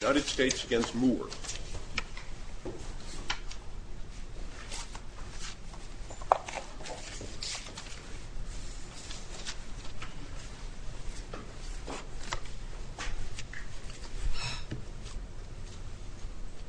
United States v. Moore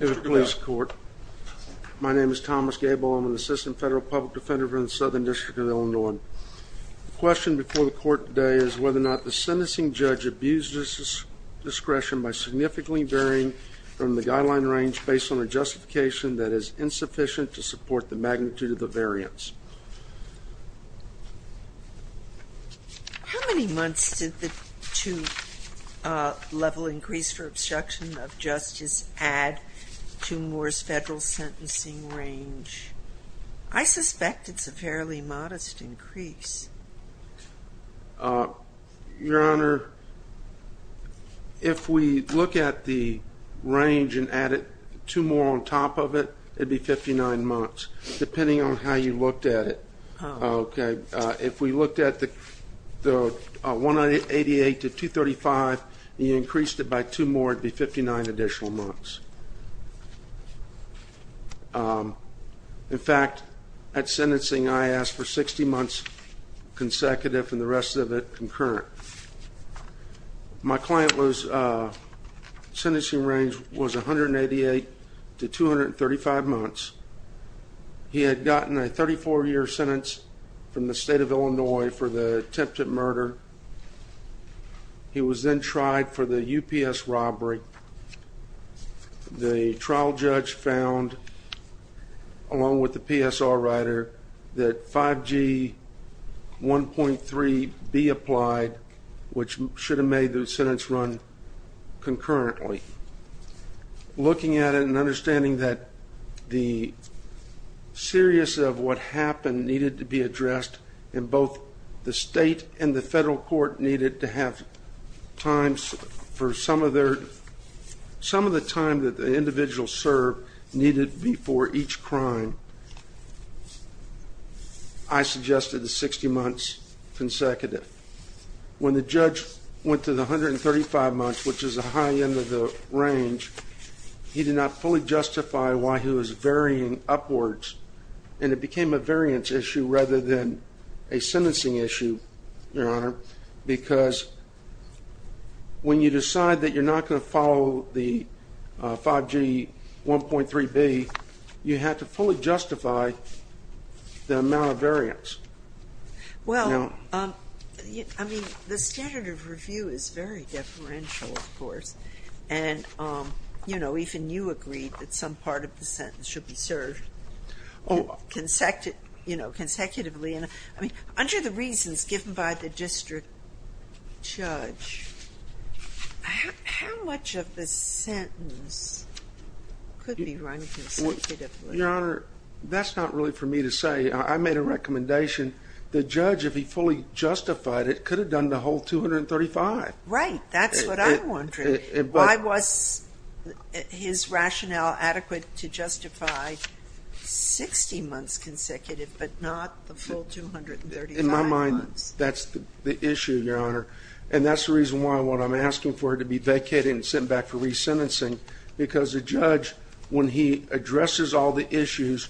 In the police court, my name is Thomas Gable. I'm an assistant federal public defender for the Southern District of Illinois. The question before the court today is whether or not the sentencing judge abused his discretion by significantly varying from the guideline range based on a justification that is insufficient to support the magnitude of the variance. How many months did the two-level increase for obstruction of justice add to Moore's federal sentencing range? I suspect it's a fairly modest increase. Your Honor, if we look at the range and add two more on top of it, it would be 59 months, depending on how you looked at it. If we looked at the 188 to 235 and you increased it by two more, it would be 59 additional months. In fact, at sentencing, I asked for 60 months consecutive and the rest of it concurrent. My client's sentencing range was 188 to 235 months. He had gotten a 34-year sentence from the state of Illinois for the attempted murder. He was then tried for the UPS robbery. The trial judge found, along with the PSR writer, that 5G 1.3b applied, which should have made the sentence run concurrently. Looking at it and understanding that the seriousness of what happened needed to be addressed, and both the state and the federal court needed to have time for some of the time that the individual served needed before each crime, I suggested 60 months consecutive. When the judge went to the 135 months, which is a high end of the range, he did not fully justify why he was varying upwards, and it became a variance issue rather than a sentencing issue, Your Honor, because when you decide that you're not going to follow the 5G 1.3b, you have to fully justify the amount of variance. Well, I mean, the standard of review is very deferential, of course. And, you know, even you agreed that some part of the sentence should be served consecutively. I mean, under the reasons given by the district judge, how much of the sentence could be run consecutively? Your Honor, that's not really for me to say. I made a recommendation. The judge, if he fully justified it, could have done the whole 235. Right. That's what I'm wondering. Why was his rationale adequate to justify 60 months consecutive but not the full 235 months? In my mind, that's the issue, Your Honor. And that's the reason why I'm asking for it to be vacated and sent back for resentencing, because the judge, when he addresses all the issues,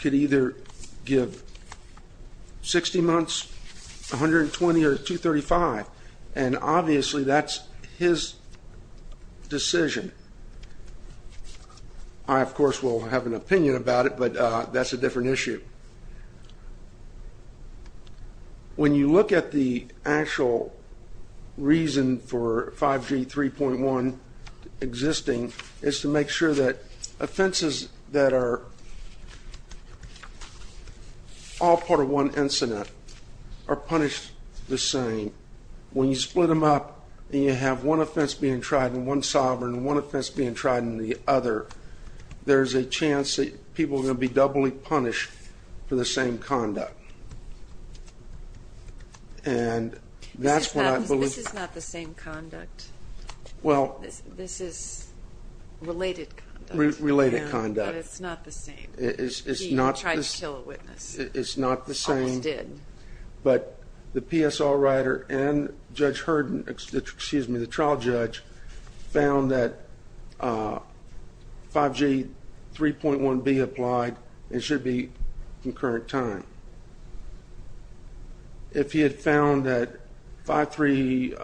could either give 60 months, 120, or 235. And obviously that's his decision. I, of course, will have an opinion about it, but that's a different issue. When you look at the actual reason for 5G 3.1 existing, it's to make sure that offenses that are all part of one incident are punished the same. When you split them up and you have one offense being tried in one sovereign and one offense being tried in the other, there's a chance that people are going to be doubly punished for the same conduct. And that's what I believe. This is not the same conduct. Well. This is related conduct. Related conduct. But it's not the same. It's not the same. He tried to kill a witness. It's not the same. Almost did. But the PSL writer and Judge Hurden, excuse me, the trial judge, found that 5G 3.1b applied and should be concurrent time. If he had found that 5G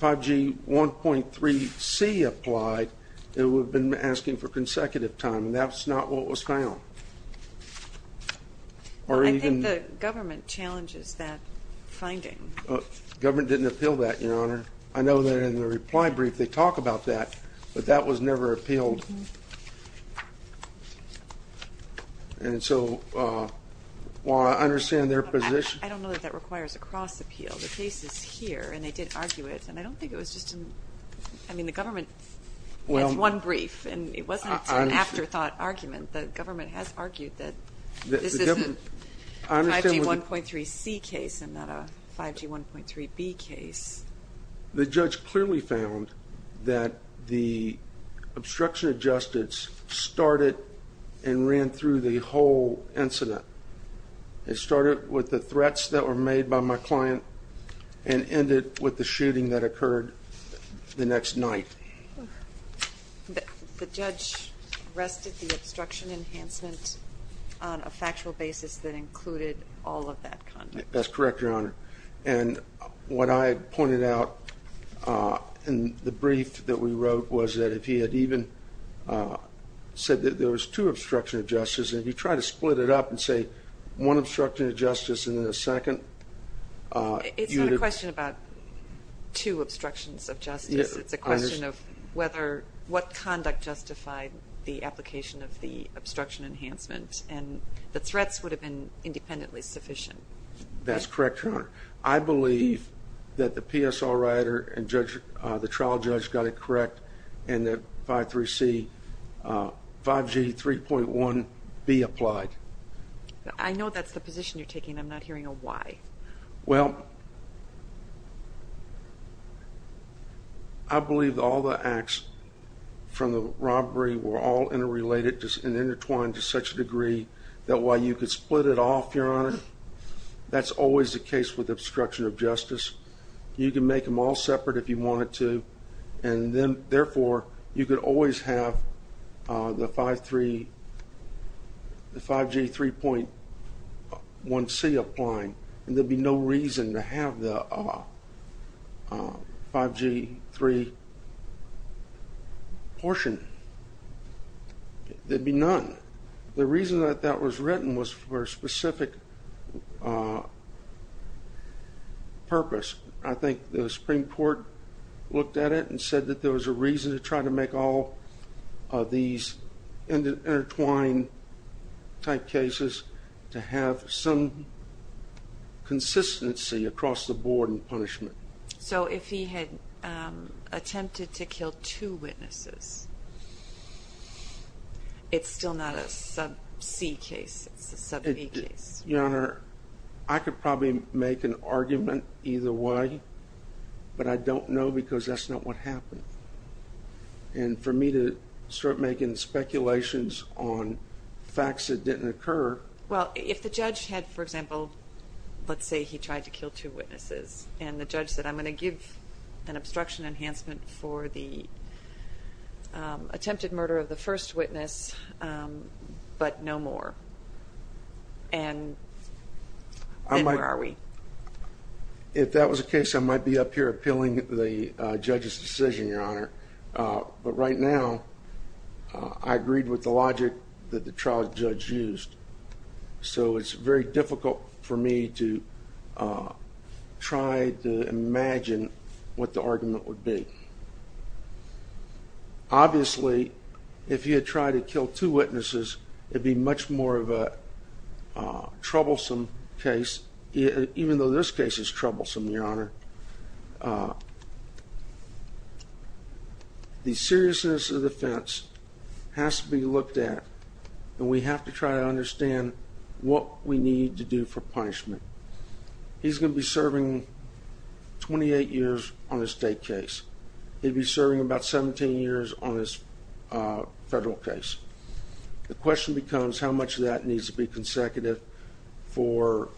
1.3c applied, it would have been asking for consecutive time, and that's not what was found. I think the government challenges that finding. The government didn't appeal that, Your Honor. I know that in the reply brief they talk about that, but that was never appealed. And so while I understand their position. I don't know that that requires a cross-appeal. The case is here, and they did argue it. And I don't think it was just an ‑‑ I mean, the government had one brief, and it wasn't an afterthought argument. The government has argued that this is a 5G 1.3c case and not a 5G 1.3b case. The judge clearly found that the obstruction of justice started and ran through the whole incident. It started with the threats that were made by my client and ended with the shooting that occurred the next night. The judge rested the obstruction enhancement on a factual basis that included all of that content. That's correct, Your Honor. And what I pointed out in the brief that we wrote was that if he had even said that there was two obstructions of justice, and if you try to split it up and say one obstruction of justice and then a second. It's not a question about two obstructions of justice. It's a question of what conduct justified the application of the obstruction enhancement and the threats would have been independently sufficient. That's correct, Your Honor. I believe that the PSL writer and the trial judge got it correct and that 5.3c 5G 3.1b applied. I know that's the position you're taking. I'm not hearing a why. Well, I believe all the acts from the robbery were all interrelated and intertwined to such a degree that while you could split it off, Your Honor, that's always the case with obstruction of justice. You can make them all separate if you wanted to, and then, therefore, you could always have the 5G 3.1c applying, and there'd be no reason to have the 5G 3 portion. There'd be none. The reason that that was written was for a specific purpose. I think the Supreme Court looked at it and said that there was a reason to try to make all of these intertwined-type cases to have some consistency across the board in punishment. So if he had attempted to kill two witnesses, it's still not a sub-c case. It's a sub-d case. Your Honor, I could probably make an argument either way, but I don't know because that's not what happened. And for me to start making speculations on facts that didn't occur. Well, if the judge had, for example, let's say he tried to kill two witnesses, and the judge said, I'm going to give an obstruction enhancement for the attempted murder of the first witness, but no more, then where are we? If that was the case, I might be up here appealing the judge's decision, Your Honor. But right now, I agreed with the logic that the trial judge used. So it's very difficult for me to try to imagine what the argument would be. Obviously, if he had tried to kill two witnesses, it would be much more of a troublesome case, even though this case is troublesome, Your Honor. The seriousness of the offense has to be looked at, and we have to try to understand what we need to do for punishment. He's going to be serving 28 years on a state case. He'll be serving about 17 years on this federal case. The question becomes how much of that needs to be consecutive for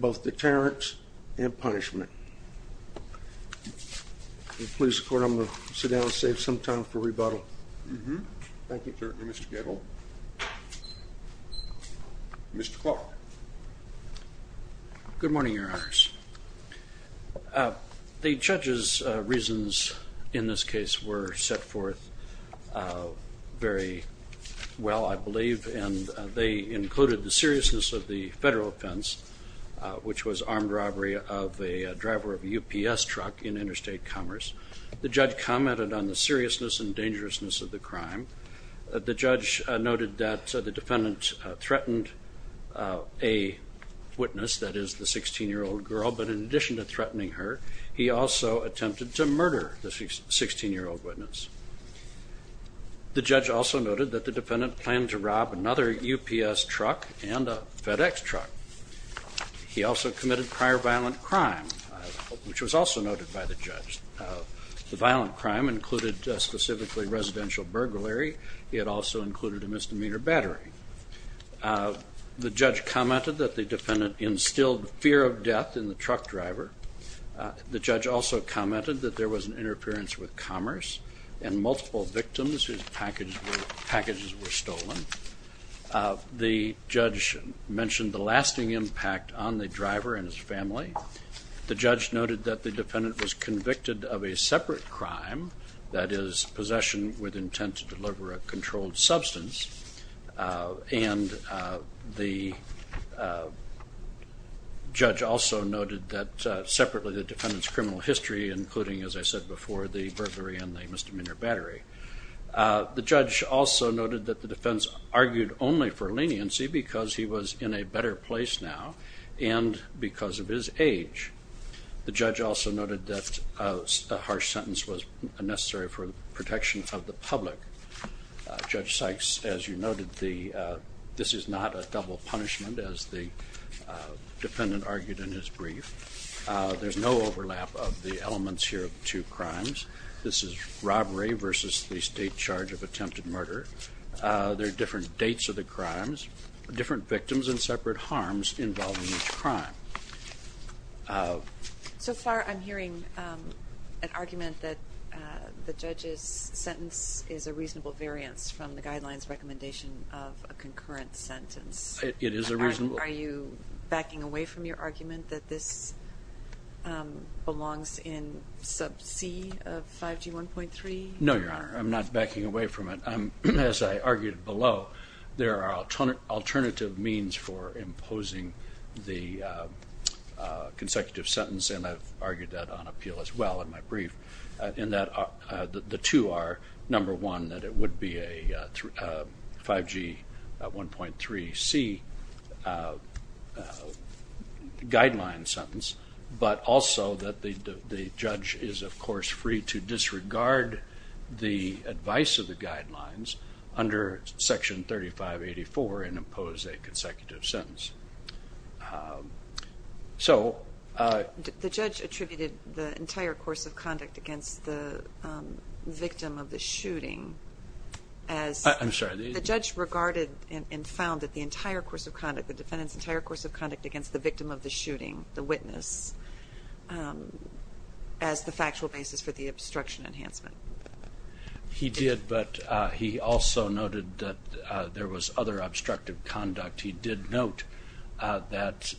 both deterrence and punishment. If you'll please, Court, I'm going to sit down and save some time for rebuttal. Thank you, Mr. Gadel. Good morning, Your Honors. The judge's reasons in this case were set forth very well, I believe, and they included the seriousness of the federal offense, which was armed robbery of a driver of a UPS truck in Interstate Commerce. The judge commented on the seriousness and dangerousness of the crime. The judge noted that the defendant threatened a witness, that is, the 16-year-old girl, but in addition to threatening her, he also attempted to murder the 16-year-old witness. The judge also noted that the defendant planned to rob another UPS truck and a FedEx truck. He also committed prior violent crime, which was also noted by the judge. The violent crime included specifically residential burglary. It also included a misdemeanor battery. The judge commented that the defendant instilled fear of death in the truck driver. The judge also commented that there was an interference with commerce and multiple victims whose packages were stolen. The judge mentioned the lasting impact on the driver and his family. The judge noted that the defendant was convicted of a separate crime, that is, possession with intent to deliver a controlled substance, and the judge also noted that separately the defendant's criminal history, including, as I said before, the burglary and the misdemeanor battery. The judge also noted that the defense argued only for leniency because he was in a better place now and because of his age. The judge also noted that a harsh sentence was necessary for the protection of the public. Judge Sykes, as you noted, this is not a double punishment, as the defendant argued in his brief. There's no overlap of the elements here of the two crimes. This is robbery versus the state charge of attempted murder. There are different dates of the crimes, different victims, and separate harms involving each crime. So far I'm hearing an argument that the judge's sentence is a reasonable variance from the guidelines recommendation of a concurrent sentence. It is a reasonable. Are you backing away from your argument that this belongs in sub C of 5G1.3? No, Your Honor. I'm not backing away from it. As I argued below, there are alternative means for imposing the consecutive sentence, and I've argued that on appeal as well in my brief, in that the two are, number one, that it would be a 5G1.3c guideline sentence, but also that the judge is, of course, free to disregard the advice of the guidelines under Section 3584 and impose a consecutive sentence. So... The judge attributed the entire course of conduct against the victim of the shooting as... I'm sorry. The defendant's entire course of conduct against the victim of the shooting, the witness, as the factual basis for the obstruction enhancement. He did, but he also noted that there was other obstructive conduct. He did note that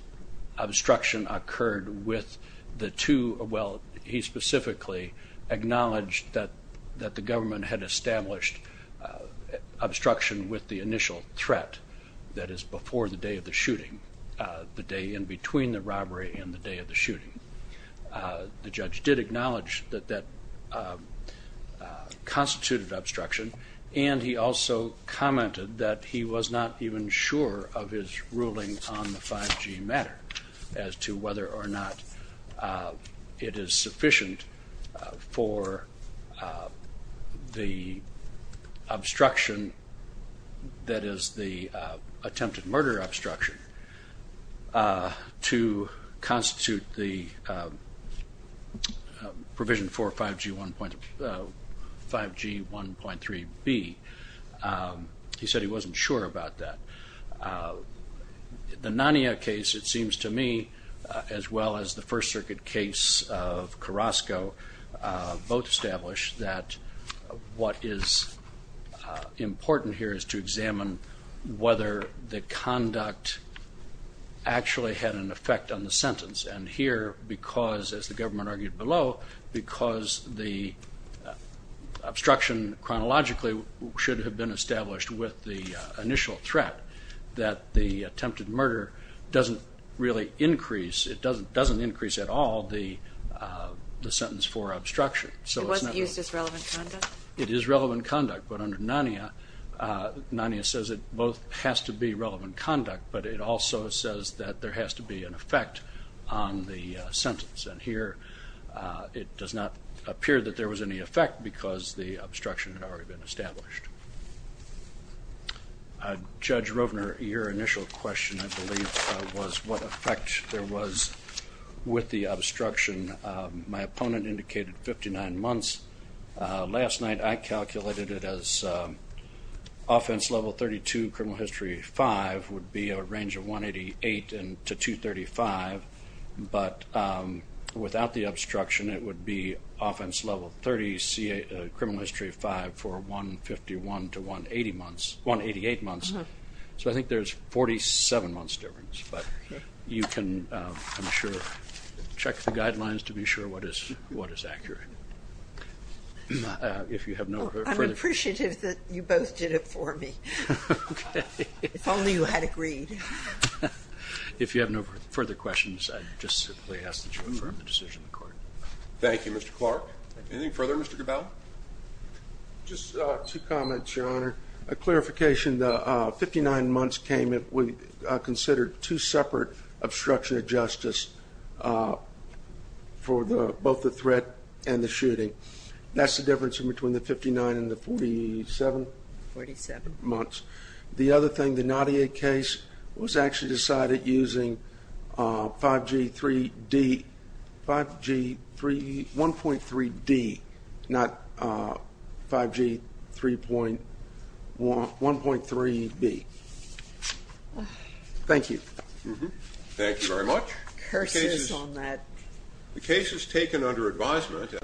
obstruction occurred with the two. Well, he specifically acknowledged that the government had established obstruction with the initial threat, that is before the day of the shooting, the day in between the robbery and the day of the shooting. The judge did acknowledge that that constituted obstruction, and he also commented that he was not even sure of his ruling on the 5G matter as to whether or not it is sufficient for the obstruction that is the attempted murder obstruction to constitute the provision for 5G1.3b. He said he wasn't sure about that. The Nania case, it seems to me, as well as the First Circuit case of Carrasco, both established that what is important here is to examine whether the conduct actually had an effect on the sentence. And here, because, as the government argued below, because the obstruction chronologically should have been established with the initial threat, that the attempted murder doesn't really increase, it doesn't increase at all, the sentence for obstruction. It wasn't used as relevant conduct? It is relevant conduct, but under Nania, Nania says it both has to be relevant conduct, but it also says that there has to be an effect on the sentence. And here, it does not appear that there was any effect because the obstruction had already been established. Judge Rovner, your initial question, I believe, was what effect there was with the obstruction. My opponent indicated 59 months. Last night, I calculated it as offense level 32, criminal history 5 would be a range of 188 to 235. But without the obstruction, it would be offense level 30, criminal history 5 for 151 to 188 months. So I think there's 47 months difference. But you can, I'm sure, check the guidelines to be sure what is accurate. If you have no further questions. I'm appreciative that you both did it for me. Okay. If only you had agreed. If you have no further questions, I just simply ask that you confirm the decision in court. Thank you, Mr. Clark. Anything further, Mr. Cabello? Just two comments, Your Honor. A clarification, the 59 months came if we considered two separate obstruction of justice for both the threat and the shooting. That's the difference between the 59 and the 47? 47. Months. The other thing, the Nadia case was actually decided using 5G3D, 5G3, 1.3D, not 5G3.1, 1.3B. Thank you. Thank you very much. Curses on that. The case is taken under advisement.